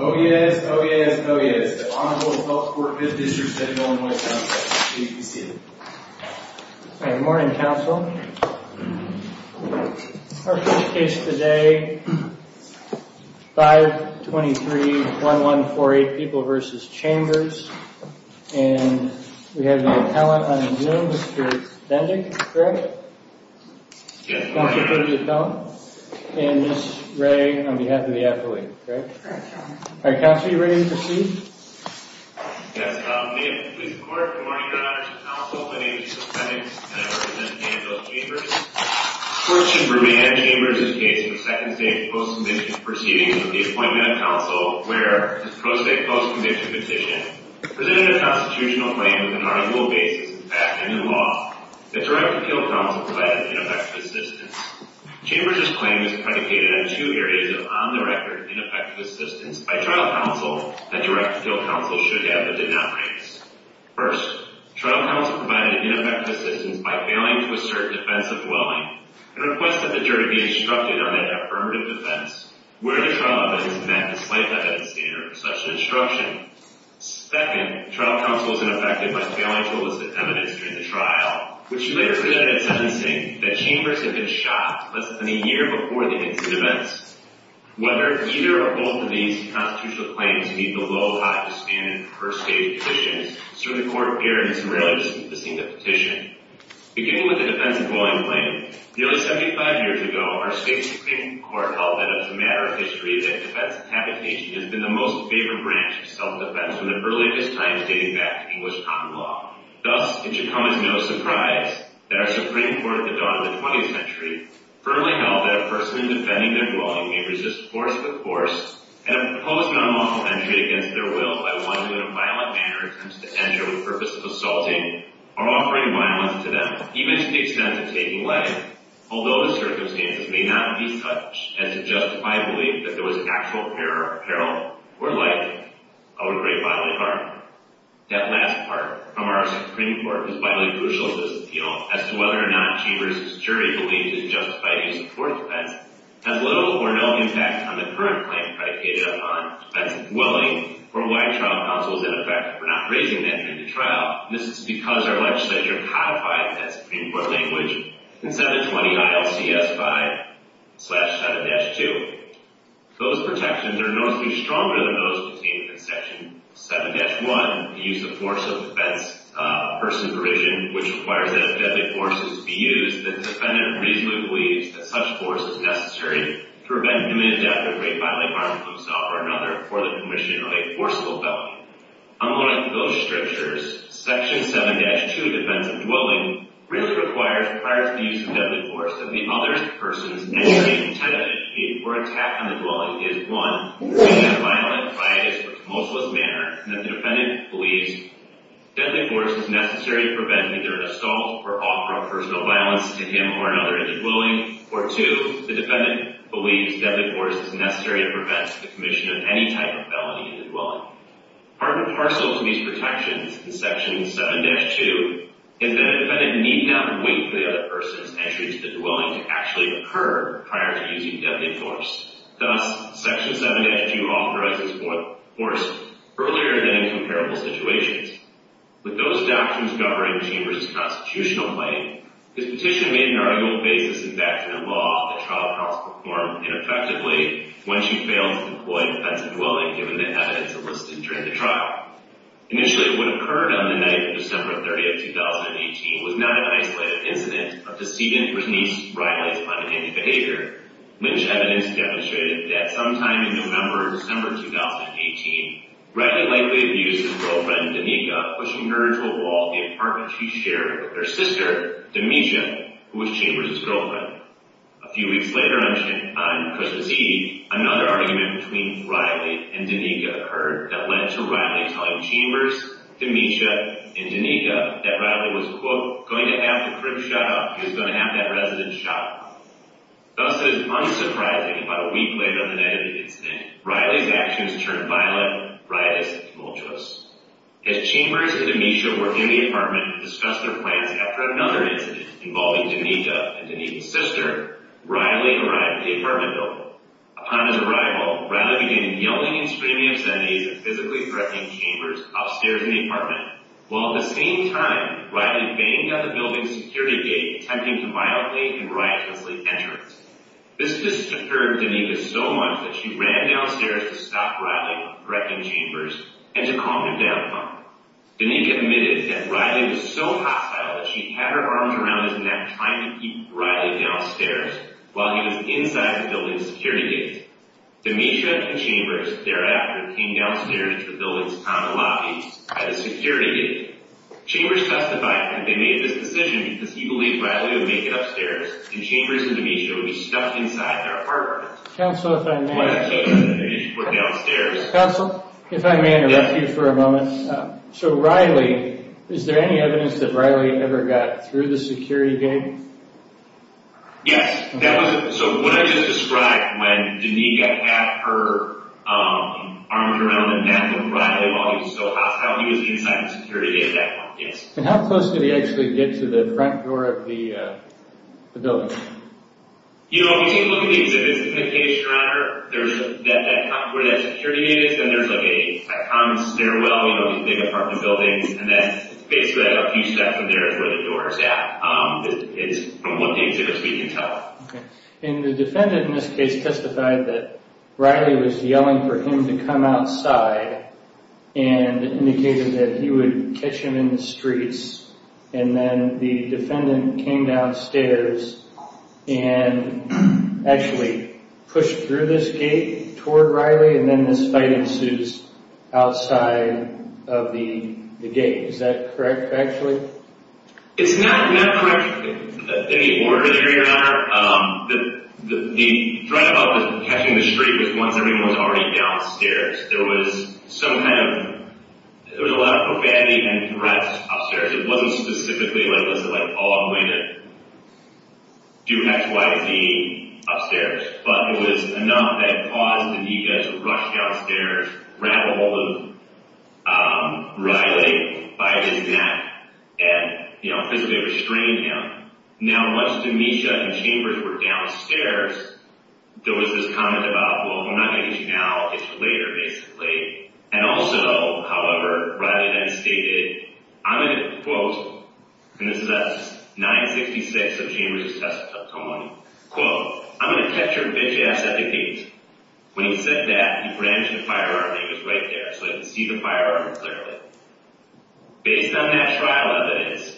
Oh yes, oh yes, oh yes. The Honorable Health Court, 5th District, Seddon-Olen, W.C. Good morning, counsel. Our first case today, 523-1148, People v. Chambers. And we have the appellant on his name, Mr. Dendick, correct? Yes. And Ms. Ray, on behalf of the appellant, correct? Correct, Your Honor. All right, counsel, are you ready to proceed? Yes, Your Honor. May it please the Court, good morning, Your Honor. It's a counsel by the name of Jesus Hendricks, and I represent People v. Chambers. The court should review Head Chambers' case in the Second State Post-Conviction Proceedings of the Appointment of Counsel, where the Post-State Post-Conviction Petition presented a constitutional claim with an arguable basis of the fact and the law that direct appeal counsel provided ineffective assistance. Chambers' claim is predicated on two areas of on-the-record ineffective assistance by trial counsel that direct appeal counsel should have but did not raise. First, trial counsel provided ineffective assistance by failing to assert defensive willing and requested the jury be instructed on their affirmative defense, where the trial evidence met the slight evidence standard for such an instruction. Second, trial counsel was ineffective by failing to elicit evidence during the trial, which she later presented in sentencing that Chambers had been shot less than a year before the incident. Whether either or both of these constitutional claims meet the low-high disbanded first state petition, certain court hearings rarely distinguish the petition. Beginning with the defensive willing claim, nearly 75 years ago, our state's Supreme Court held that it was a matter of history that defensive habitation has been the most favored branch of self-defense from the earliest times dating back to English common law. Thus, it should come as no surprise that our Supreme Court at the dawn of the 20th century firmly held that a person defending their willing may resist force with force and impose an unlawful entry against their will by one who in a violent manner attempts to enter with the purpose of assaulting or offering violence to them, even to the extent of taking life, although the circumstances may not be such as to justify belief that there was actual peril or likely of a great violent harm. That last part from our Supreme Court was vitally crucial to this appeal as to whether or not Chambers' jury believes it justified the use of force defense has little or no impact on the current claim predicated upon defensive willing or why trial counsel is ineffective for not raising an entry to trial. This is because our legislature codified that Supreme Court language in 720 ILCS 5-7-2. Those protections are noticeably stronger than those contained in Section 7-1, the use of force of defense of a person's provision, which requires that if deadly forces be used, the defendant reasonably believes that such force is necessary to prevent human death or great violent harm to himself or another for the permission of a forcible felony. Unlike those strictures, Section 7-2, defense of dwelling, really requires, prior to the use of deadly force, that the other person's any intent of education or attack on the dwelling is, one, in a violent, riotous, or commensalist manner, and that the defendant believes deadly force is necessary to prevent either an assault or offer of personal violence to him or another in the dwelling, or two, the defendant believes deadly force is necessary to prevent the commission of any type of felony in the dwelling. Part and parcel of these protections in Section 7-2 is that a defendant need not wait for the other person's entry to the dwelling to actually occur prior to using deadly force. Thus, Section 7-2 authorizes force earlier than in comparable situations. With those doctrines governing Chambers' constitutional claim, his petition made an arguable basis in back-to-the-law that trial courts perform ineffectively when she failed to employ defensive dwelling, given the evidence enlisted during the trial. Initially, what occurred on the night of December 30, 2018, was not an isolated incident of deceit and Bernice Riley's punitive behavior, which evidence demonstrated that sometime in November or December 2018, Riley likely abused his girlfriend, Danica, pushing her into a wall at the apartment she shared with her sister, Demetria, who was Chambers' girlfriend. A few weeks later on Christmas Eve, another argument between Riley and Danica occurred that led to Riley telling Chambers, Demetria, and Danica that Riley was, quote, going to have the crib shot up. He was going to have that resident shot up. Thus, it is unsurprising that about a week later on the night of the incident, Riley's actions turned violent, riotous, and tumultuous. As Chambers and Demetria were in the apartment to discuss their plans after another incident involving Danica and Danica's sister, Riley arrived at the apartment building. Upon his arrival, Riley began yelling and screaming obscenities at physically threatening Chambers upstairs in the apartment, while at the same time, Riley banged on the building's security gate, attempting to violently and riotously enter it. This disturbed Danica so much that she ran downstairs to stop Riley from threatening Chambers and to calm him down. Danica admitted that Riley was so hostile that she had her arms around his neck trying to keep Riley downstairs while he was inside the building's security gate. Demetria and Chambers thereafter came downstairs to the building's counter lobby at the security gate. Chambers testified that they made this decision because he believed Riley would make it upstairs and Chambers and Demetria would be stuffed inside their apartment. Council, if I may interrupt you for a moment. So Riley, is there any evidence that Riley ever got through the security gate? Yes, so what I just described when Danica had her arms around the neck of Riley while he was still hostile, he was inside the security gate at that point, yes. And how close did he actually get to the front door of the building? You know, if you take a look at the exhibit, it's indicated straight on where that security gate is and there's like a common stairwell between the apartment buildings and then basically a few steps in there is where the door is at. It's from what the exhibit is we can tell. And the defendant in this case testified that Riley was yelling for him to come outside and indicated that he would catch him in the streets and then the defendant came downstairs and actually pushed through this gate toward Riley and then this fight ensues outside of the gate. Is that correct actually? It's not correct anymore, Your Honor. The drive-by was catching the street once everyone was already downstairs. There was a lot of profanity and threats upstairs. It wasn't specifically like, Paul, I'm going to do X, Y, Z upstairs. But it was enough that it caused Danica to rush downstairs, grab ahold of Riley by his neck because they restrained him. Now once Danica and Chambers were downstairs, there was this comment about, well, if I'm not going to get you now, it's for later basically. And also, however, Riley then stated, I'm going to quote, and this is at 966 of Chambers' testimony, quote, I'm going to catch your bitch ass at the gates. When he said that, he branched the firearm and it was right there so I could see the firearm clearly. Based on that trial evidence,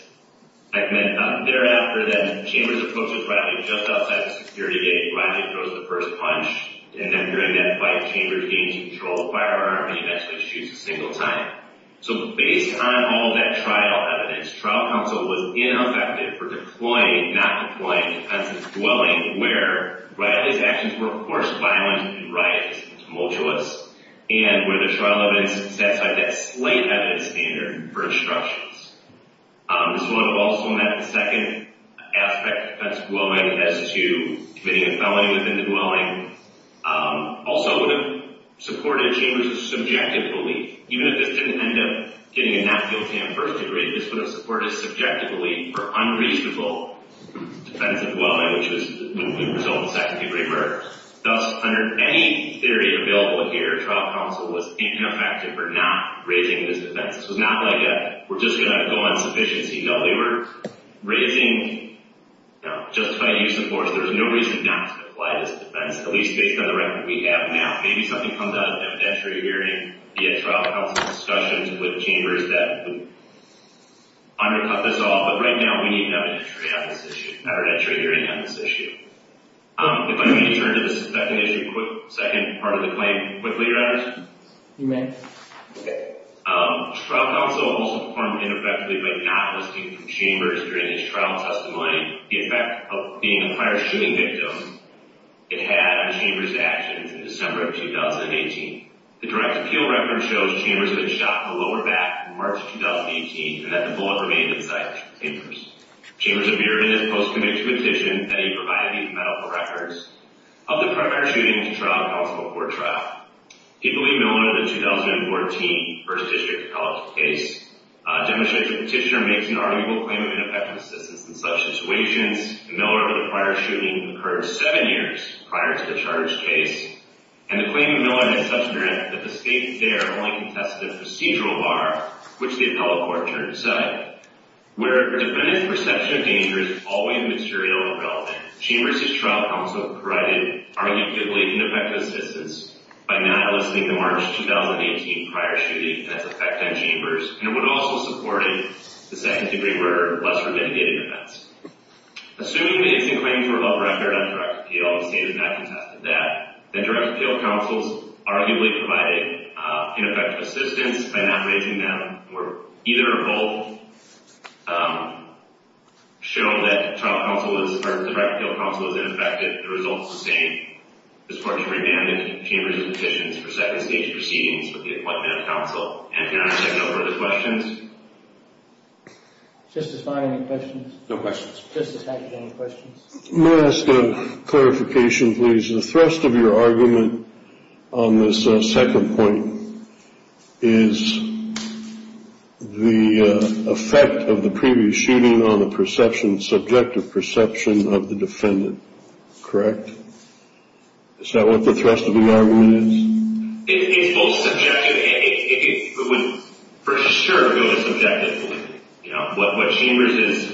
thereafter then, Chambers approaches Riley just outside the security gate. Riley throws the first punch. And then during that fight, Chambers gains control of the firearm and eventually shoots a single time. So based on all that trial evidence, trial counsel was ineffective for deploying, not deploying, defense's dwelling where Riley's actions were, of course, violent and riotous and tumultuous and where the trial evidence satisfied that slight evidence standard for instructions. This would have also meant the second aspect, that's dwelling as to committing a felony within the dwelling, also would have supported Chambers' subjective belief. Even if this didn't end up getting a not guilty on first degree, this would have supported his subjective belief for unreasonable defensive dwelling, which would result in second degree murder. Thus, under any theory available here, trial counsel was ineffective for not raising this defense. It's not like we're just going to go on sufficiency. No, we were raising justifying use of force. There's no reason not to apply this defense, at least based on the record we have now. Maybe something comes out of evidentiary hearing via trial counsel discussions with Chambers that would undercut this all. But right now, we need an evidentiary hearing on this issue. If I may turn to the second issue, second part of the claim quickly, Your Honor. You may. Trial counsel also performed ineffectively by not listening to Chambers during his trial testimony. The effect of being a prior shooting victim, it had on Chambers' actions in December of 2018. The direct appeal record shows Chambers had been shot in the lower back in March of 2018, and that the bullet remained inside Chambers. Chambers appeared in his post-conviction petition that he provided the medical records of the prior shooting to trial counsel before trial. Equally known as the 2014 First District College case, Demonstration Petitioner makes an arguable claim of ineffective assistance in such situations. The Miller of the prior shooting occurred seven years prior to the charge case, and the claim of Miller is such that the state there only contested the procedural bar, which the appellate court turned to say. Where defendant's perception of danger is always material and relevant, Chambers' trial counsel provided arguably ineffective assistance by not listening to March 2018 prior shooting that's effected Chambers, and it would also support a second-degree murder, lesser mitigated events. Assuming that it's in claim for a love record on direct appeal, the state has not contested that, then direct appeal counsels arguably provided ineffective assistance by not raising them, or either or both, showing that direct appeal counsel is ineffective. The result is the same. This court should remand Chambers' petitions for second-stage proceedings with the appointment of counsel. And can I ask a number of questions? Justify any questions. No questions. Justify any questions. May I ask a clarification, please? The thrust of your argument on this second point is the effect of the previous shooting on the subjective perception of the defendant, correct? Is that what the thrust of the argument is? It's both subjective. It would, for sure, go to subjective. What Chambers'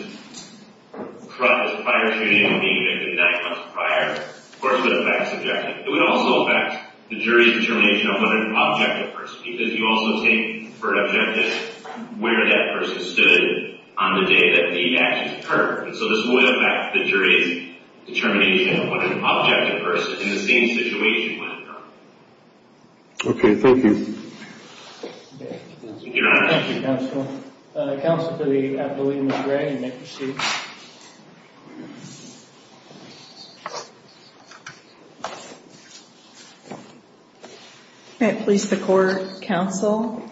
prior shooting and being convicted nine months prior, of course, would affect subjective. It would also affect the jury's determination of what an objective person is, because you also take for an objective where that person stood on the day that the actions occurred. And so this would affect the jury's determination of what an objective person in the same situation would have done. Okay, thank you. Your Honor. Thank you, counsel. Counsel for the affiliate, Ms. Gray, you may proceed. May it please the court, counsel.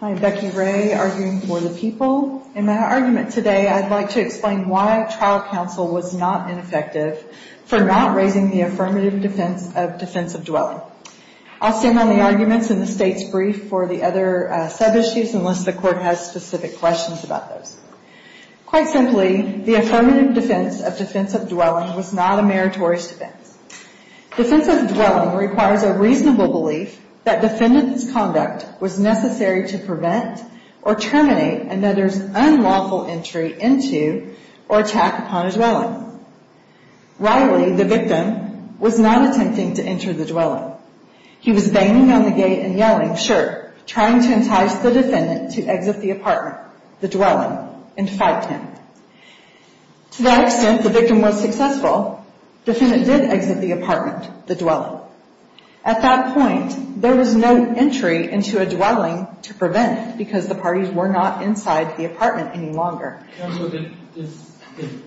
I am Becky Gray, arguing for the people. In my argument today, I'd like to explain why trial counsel was not ineffective for not raising the affirmative defense of defensive dwelling. I'll stand on the arguments in the State's brief for the other sub-issues, unless the court has specific questions about those. Quite simply, the affirmative defense of defensive dwelling was not a meritorious defense. Defensive dwelling requires a reasonable belief that defendant's conduct was necessary to prevent or terminate another's unlawful entry into or attack upon a dwelling. Riley, the victim, was not attempting to enter the dwelling. He was banging on the gate and yelling, sure, trying to entice the defendant to exit the apartment, the dwelling, and fight him. To that extent, the victim was successful. Defendant did exit the apartment, the dwelling. At that point, there was no entry into a dwelling to prevent it because the parties were not inside the apartment any longer. Counsel, did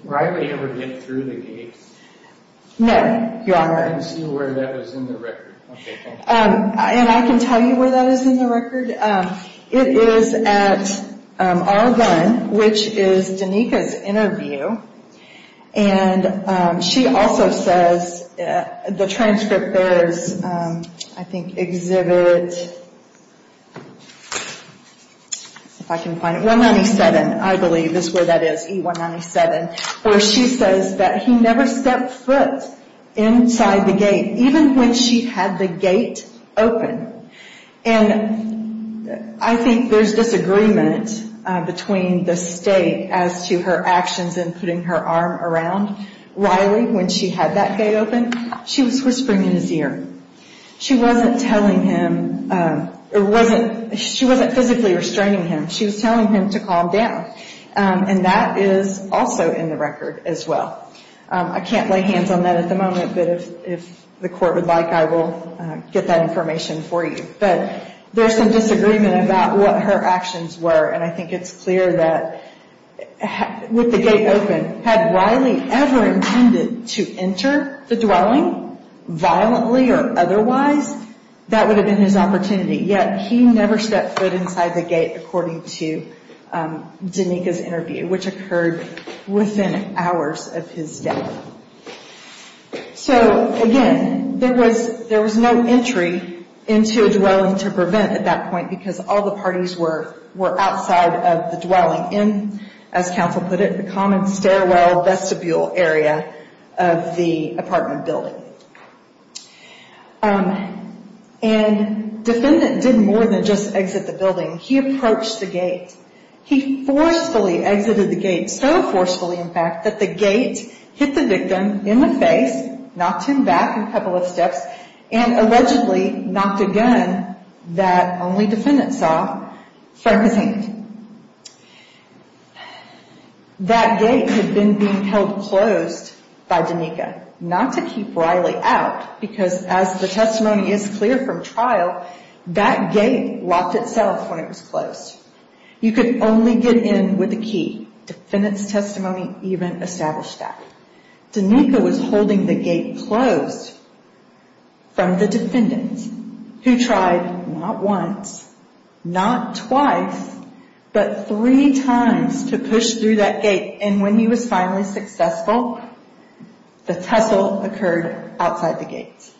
Riley ever get through the gates? No, Your Honor. I can see where that is in the record. Okay, thank you. And I can tell you where that is in the record. It is at R1, which is Danika's interview, and she also says the transcript bears, I think, Exhibit 197, I believe is where that is, E197, where she says that he never stepped foot inside the gate, even when she had the gate open. And I think there's disagreement between the state as to her actions in putting her arm around Riley when she had that gate open. She was whispering in his ear. She wasn't physically restraining him. She was telling him to calm down. And that is also in the record as well. I can't lay hands on that at the moment, but if the court would like, I will get that information for you. But there's some disagreement about what her actions were, and I think it's clear that with the gate open, had Riley ever intended to enter the dwelling violently or otherwise, that would have been his opportunity. Yet he never stepped foot inside the gate, according to Danika's interview, which occurred within hours of his death. So, again, there was no entry into a dwelling to prevent at that point because all the parties were outside of the dwelling in, as counsel put it, the common stairwell vestibule area of the apartment building. And Defendant didn't more than just exit the building. He approached the gate. He forcefully exited the gate, so forcefully, in fact, that the gate hit the victim in the face, knocked him back a couple of steps, and allegedly knocked a gun that only Defendant saw from his hand. That gate had been being held closed by Danika, not to keep Riley out because, as the testimony is clear from trial, that gate locked itself when it was closed. You could only get in with a key. Defendant's testimony even established that. Danika was holding the gate closed from the Defendant, who tried not once, not twice, but three times to push through that gate, and when he was finally successful, the tussle occurred outside the gate.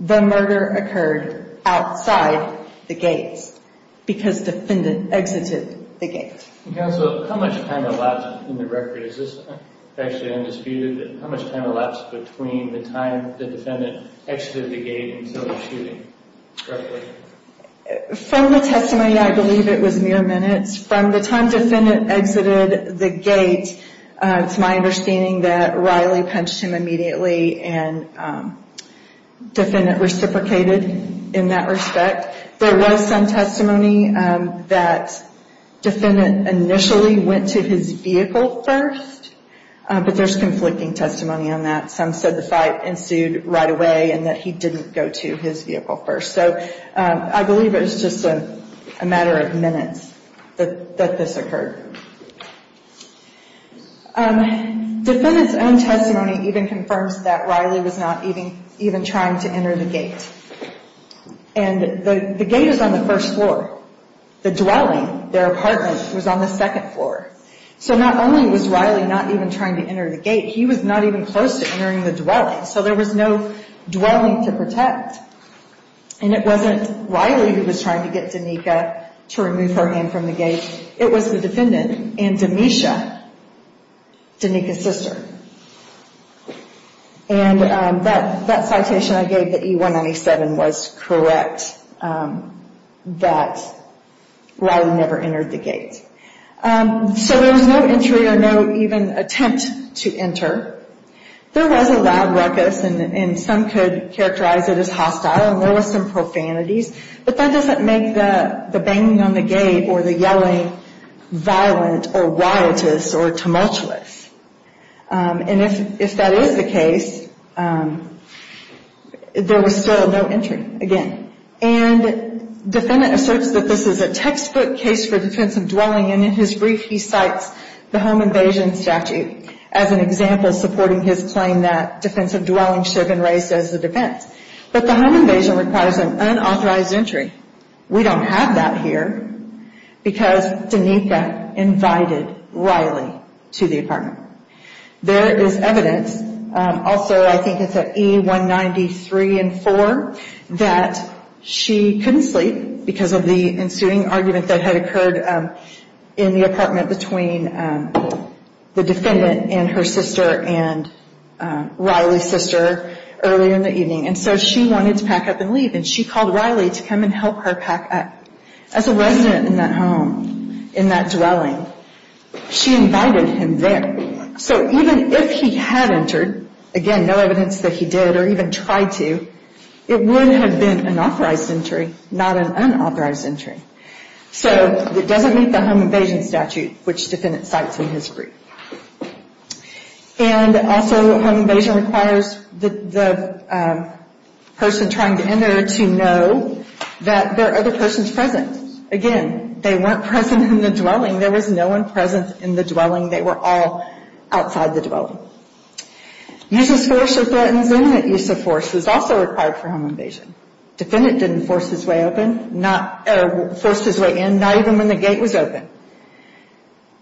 The murder occurred outside the gate because Defendant exited the gate. Counsel, how much time elapsed in the record? Is this actually undisputed? How much time elapsed between the time the Defendant exited the gate until the shooting? From the testimony, I believe it was mere minutes. From the time Defendant exited the gate, it's my understanding that Riley punched him immediately and Defendant reciprocated in that respect. There was some testimony that Defendant initially went to his vehicle first, but there's conflicting testimony on that. Some said the fight ensued right away and that he didn't go to his vehicle first. I believe it was just a matter of minutes that this occurred. Defendant's own testimony even confirms that Riley was not even trying to enter the gate. The gate is on the first floor. The dwelling, their apartment, was on the second floor. Not only was Riley not even trying to enter the gate, he was not even close to entering the dwelling, so there was no dwelling to protect. And it wasn't Riley who was trying to get Danica to remove her hand from the gate. It was the Defendant and Demisha, Danica's sister. And that citation I gave, the E197, was correct, that Riley never entered the gate. So there was no entry or no even attempt to enter. There was a loud ruckus, and some could characterize it as hostile, and there was some profanities, but that doesn't make the banging on the gate or the yelling violent or riotous or tumultuous. And if that is the case, there was still no entry, again. And Defendant asserts that this is a textbook case for defensive dwelling, and in his brief he cites the home invasion statute as an example supporting his claim that defensive dwelling should have been raised as a defense. But the home invasion requires an unauthorized entry. We don't have that here because Danica invited Riley to the apartment. There is evidence, also I think it's at E193 and E194, that she couldn't sleep because of the ensuing argument that had occurred in the apartment between the Defendant and her sister and Riley's sister earlier in the evening. And so she wanted to pack up and leave, and she called Riley to come and help her pack up. As a resident in that home, in that dwelling, she invited him there. So even if he had entered, again, no evidence that he did or even tried to, it would have been an authorized entry, not an unauthorized entry. So it doesn't meet the home invasion statute, which Defendant cites in his brief. And also home invasion requires the person trying to enter to know that there are other persons present. Again, they weren't present in the dwelling. There was no one present in the dwelling. They were all outside the dwelling. Uses force or threatens imminent use of force is also required for home invasion. Defendant didn't force his way in, not even when the gate was open.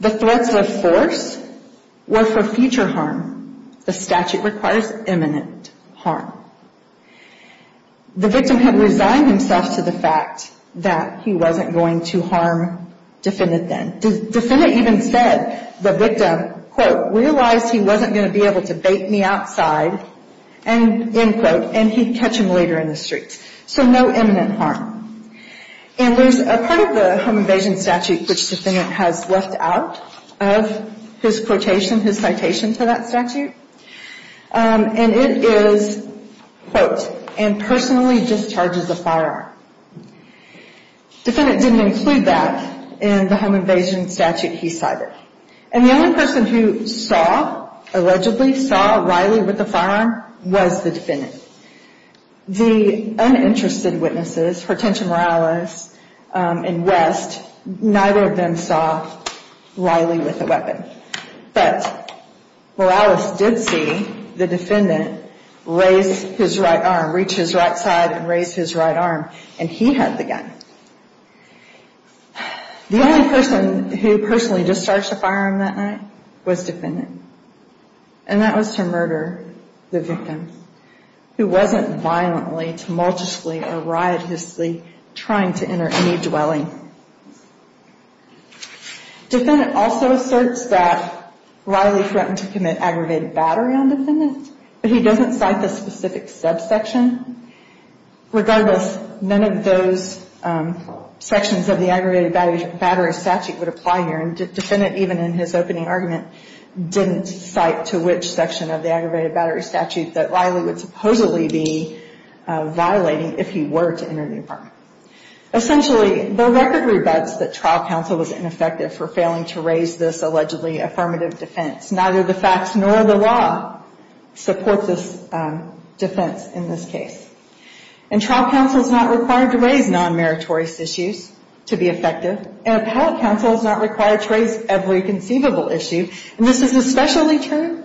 The threats of force were for future harm. The statute requires imminent harm. The victim had resigned himself to the fact that he wasn't going to harm Defendant then. Defendant even said the victim, quote, realized he wasn't going to be able to bait me outside, end quote, and he'd catch him later in the streets. So no imminent harm. And there's a part of the home invasion statute which Defendant has left out of his quotation, his citation to that statute. And it is, quote, and personally discharges a firearm. Defendant didn't include that in the home invasion statute he cited. And the only person who saw, allegedly saw Riley with a firearm was the Defendant. The uninterested witnesses, Hortensia Morales and West, neither of them saw Riley with a weapon. But Morales did see the Defendant raise his right arm, reach his right side and raise his right arm, and he had the gun. The only person who personally discharged the firearm that night was Defendant. And that was to murder the victim, who wasn't violently, tumultuously, or riotously trying to enter any dwelling. Defendant also asserts that Riley threatened to commit aggravated battery on Defendant, but he doesn't cite the specific subsection. Regardless, none of those sections of the aggravated battery statute would apply here. And Defendant, even in his opening argument, didn't cite to which section of the aggravated battery statute that Riley would supposedly be violating if he were to enter the apartment. Essentially, the record rebuts that trial counsel was ineffective for failing to raise this allegedly affirmative defense. Neither the facts nor the law support this defense in this case. And trial counsel is not required to raise non-meritorious issues to be effective, and appellate counsel is not required to raise every conceivable issue. And this is especially true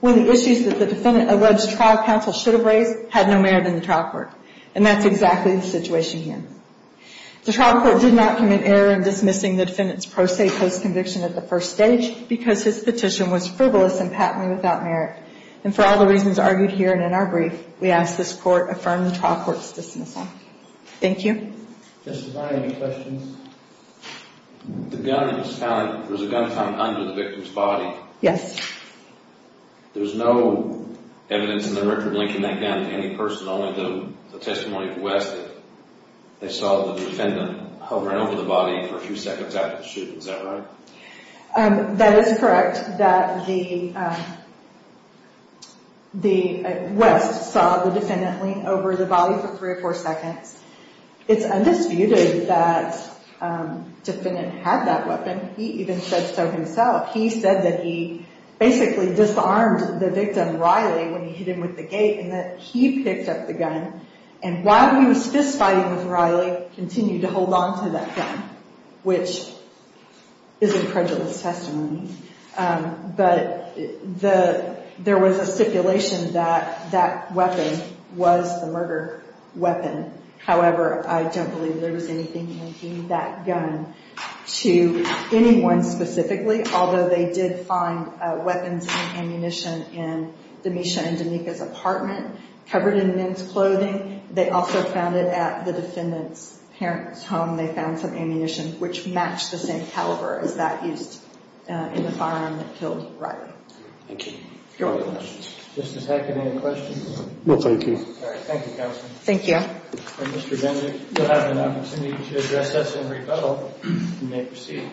when the issues that the Defendant alleged trial counsel should have raised had no merit in the trial court. And that's exactly the situation here. The trial court did not commit error in dismissing the Defendant's pro se post-conviction at the first stage because his petition was frivolous and patently without merit. And for all the reasons argued here and in our brief, we ask this court affirm the trial court's dismissal. Thank you. Justify any questions. The gun was found, there was a gun found under the victim's body. Yes. There's no evidence in the record linking that gun to any person, only the testimony of West that they saw the Defendant hovering over the body for a few seconds after the shooting. Is that right? That is correct, that the West saw the Defendant lean over the body for three or four seconds. It's undisputed that the Defendant had that weapon. He even said so himself. He said that he basically disarmed the victim, Riley, when he hit him with the gate, and that he picked up the gun and while he was fist fighting with Riley, continued to hold onto that gun, which is a credulous testimony. But there was a stipulation that that weapon was the murder weapon. However, I don't believe there was anything linking that gun to anyone specifically, although they did find weapons and ammunition in Demisha and Danika's apartment, covered in men's clothing. They also found it at the Defendant's parents' home. They found some ammunition which matched the same caliber as that used in the firearm that killed Riley. Thank you. Any other questions? Justice Hackett, any questions? No, thank you. All right, thank you, Counsel. Thank you. If you'll have an opportunity to address us in rebuttal, you may proceed.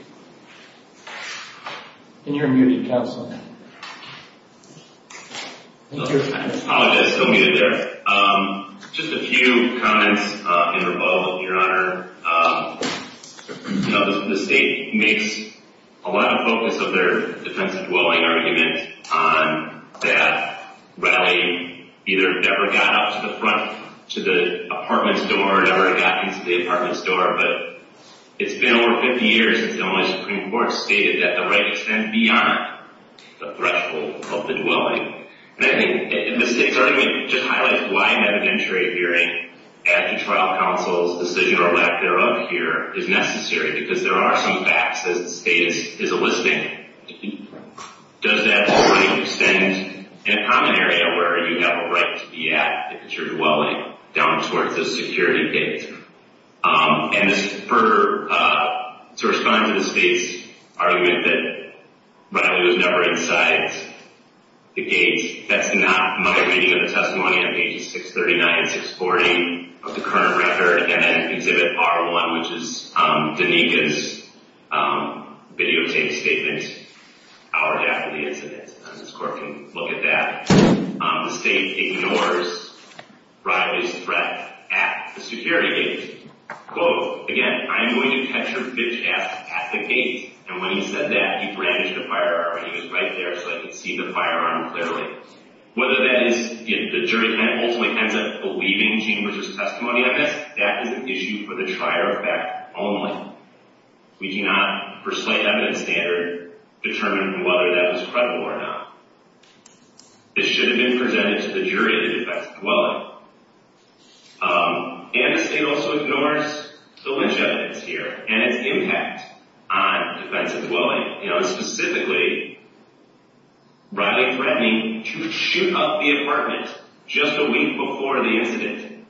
And you're muted, Counsel. I apologize, still muted there. Just a few comments in rebuttal, Your Honor. The State makes a lot of focus of their defense of dwelling argument on that Riley either never got up to the front to the apartment store or never got into the apartment store. But it's been over 50 years since the only Supreme Court stated that the right extends beyond the threshold of the dwelling. And I think the State's argument just highlights why an evidentiary hearing at the trial counsel's decision or lack thereof here is necessary because there are some facts that the State is eliciting. Does that already extend in a common area where you have a right to be at if it's your dwelling down towards the security gate? And to respond to the State's argument that Riley was never inside the gate, that's not my reading of the testimony of pages 639 and 640 of the current record. Again, exhibit R1, which is Danika's videotape statement hour after the incident. And this court can look at that. The State ignores Riley's threat at the security gate. Quote, again, I'm going to catch your bitch ass at the gate. And when he said that, he brandished a firearm. He was right there so I could see the firearm clearly. Whether that is the jury ultimately ends up believing Gene Bridger's testimony on this, that is an issue for the trier of fact only. We do not persuade evidence standard to determine whether that was credible or not. This should have been presented to the jury in defense of dwelling. And the State also ignores the lingevance here and its impact on defense of dwelling. Specifically, Riley threatening to shoot up the apartment just a week before the incident.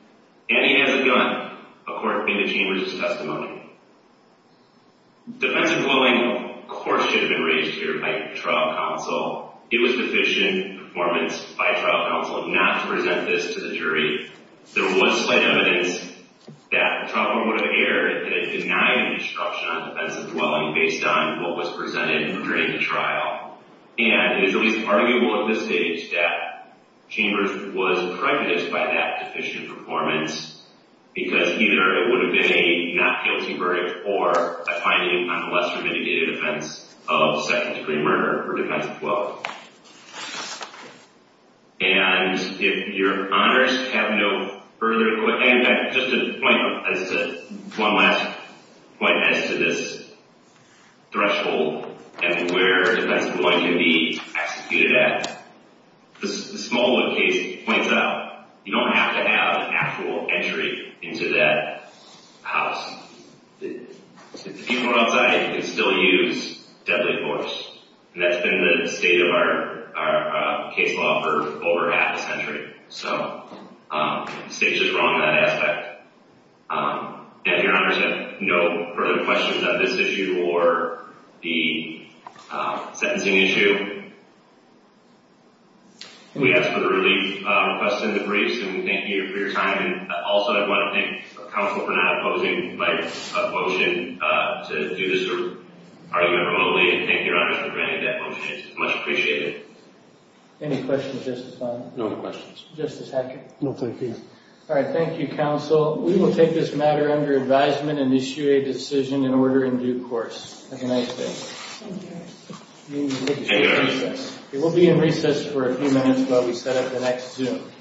And he has a gun, according to Gene Bridger's testimony. Defense of dwelling, of course, should have been raised here by trial counsel. It was sufficient performance by trial counsel not to present this to the jury. There was slight evidence that Trotman would have erred in denying the destruction on defense of dwelling based on what was presented during the trial. And it is at least arguable at this stage that Chambers was pregnant by that deficient performance. Because either it would have been a not guilty verdict or a finding on the lesser mitigated offense of second degree murder for defense of dwelling. And if your honors have no further questions, just one last point as to this threshold and where defense of dwelling can be executed at. The smallwood case points out you don't have to have actual entry into that house. If the people outside can still use deadly force. And that's been the state of our case law for over half a century. So the state's just wrong in that aspect. And if your honors have no further questions on this issue or the sentencing issue, we ask for the relief requested in the briefs and we thank you for your time. Also, I want to thank counsel for not opposing my motion to do this argument remotely. And thank your honors for granting that motion. It's much appreciated. Any questions, Justice Hackett? No questions. Justice Hackett? No thank you. All right, thank you, counsel. We will take this matter under advisement and issue a decision in order in due course. Have a nice day. Thank you. We will be in recess for a few minutes while we set up the next Zoom.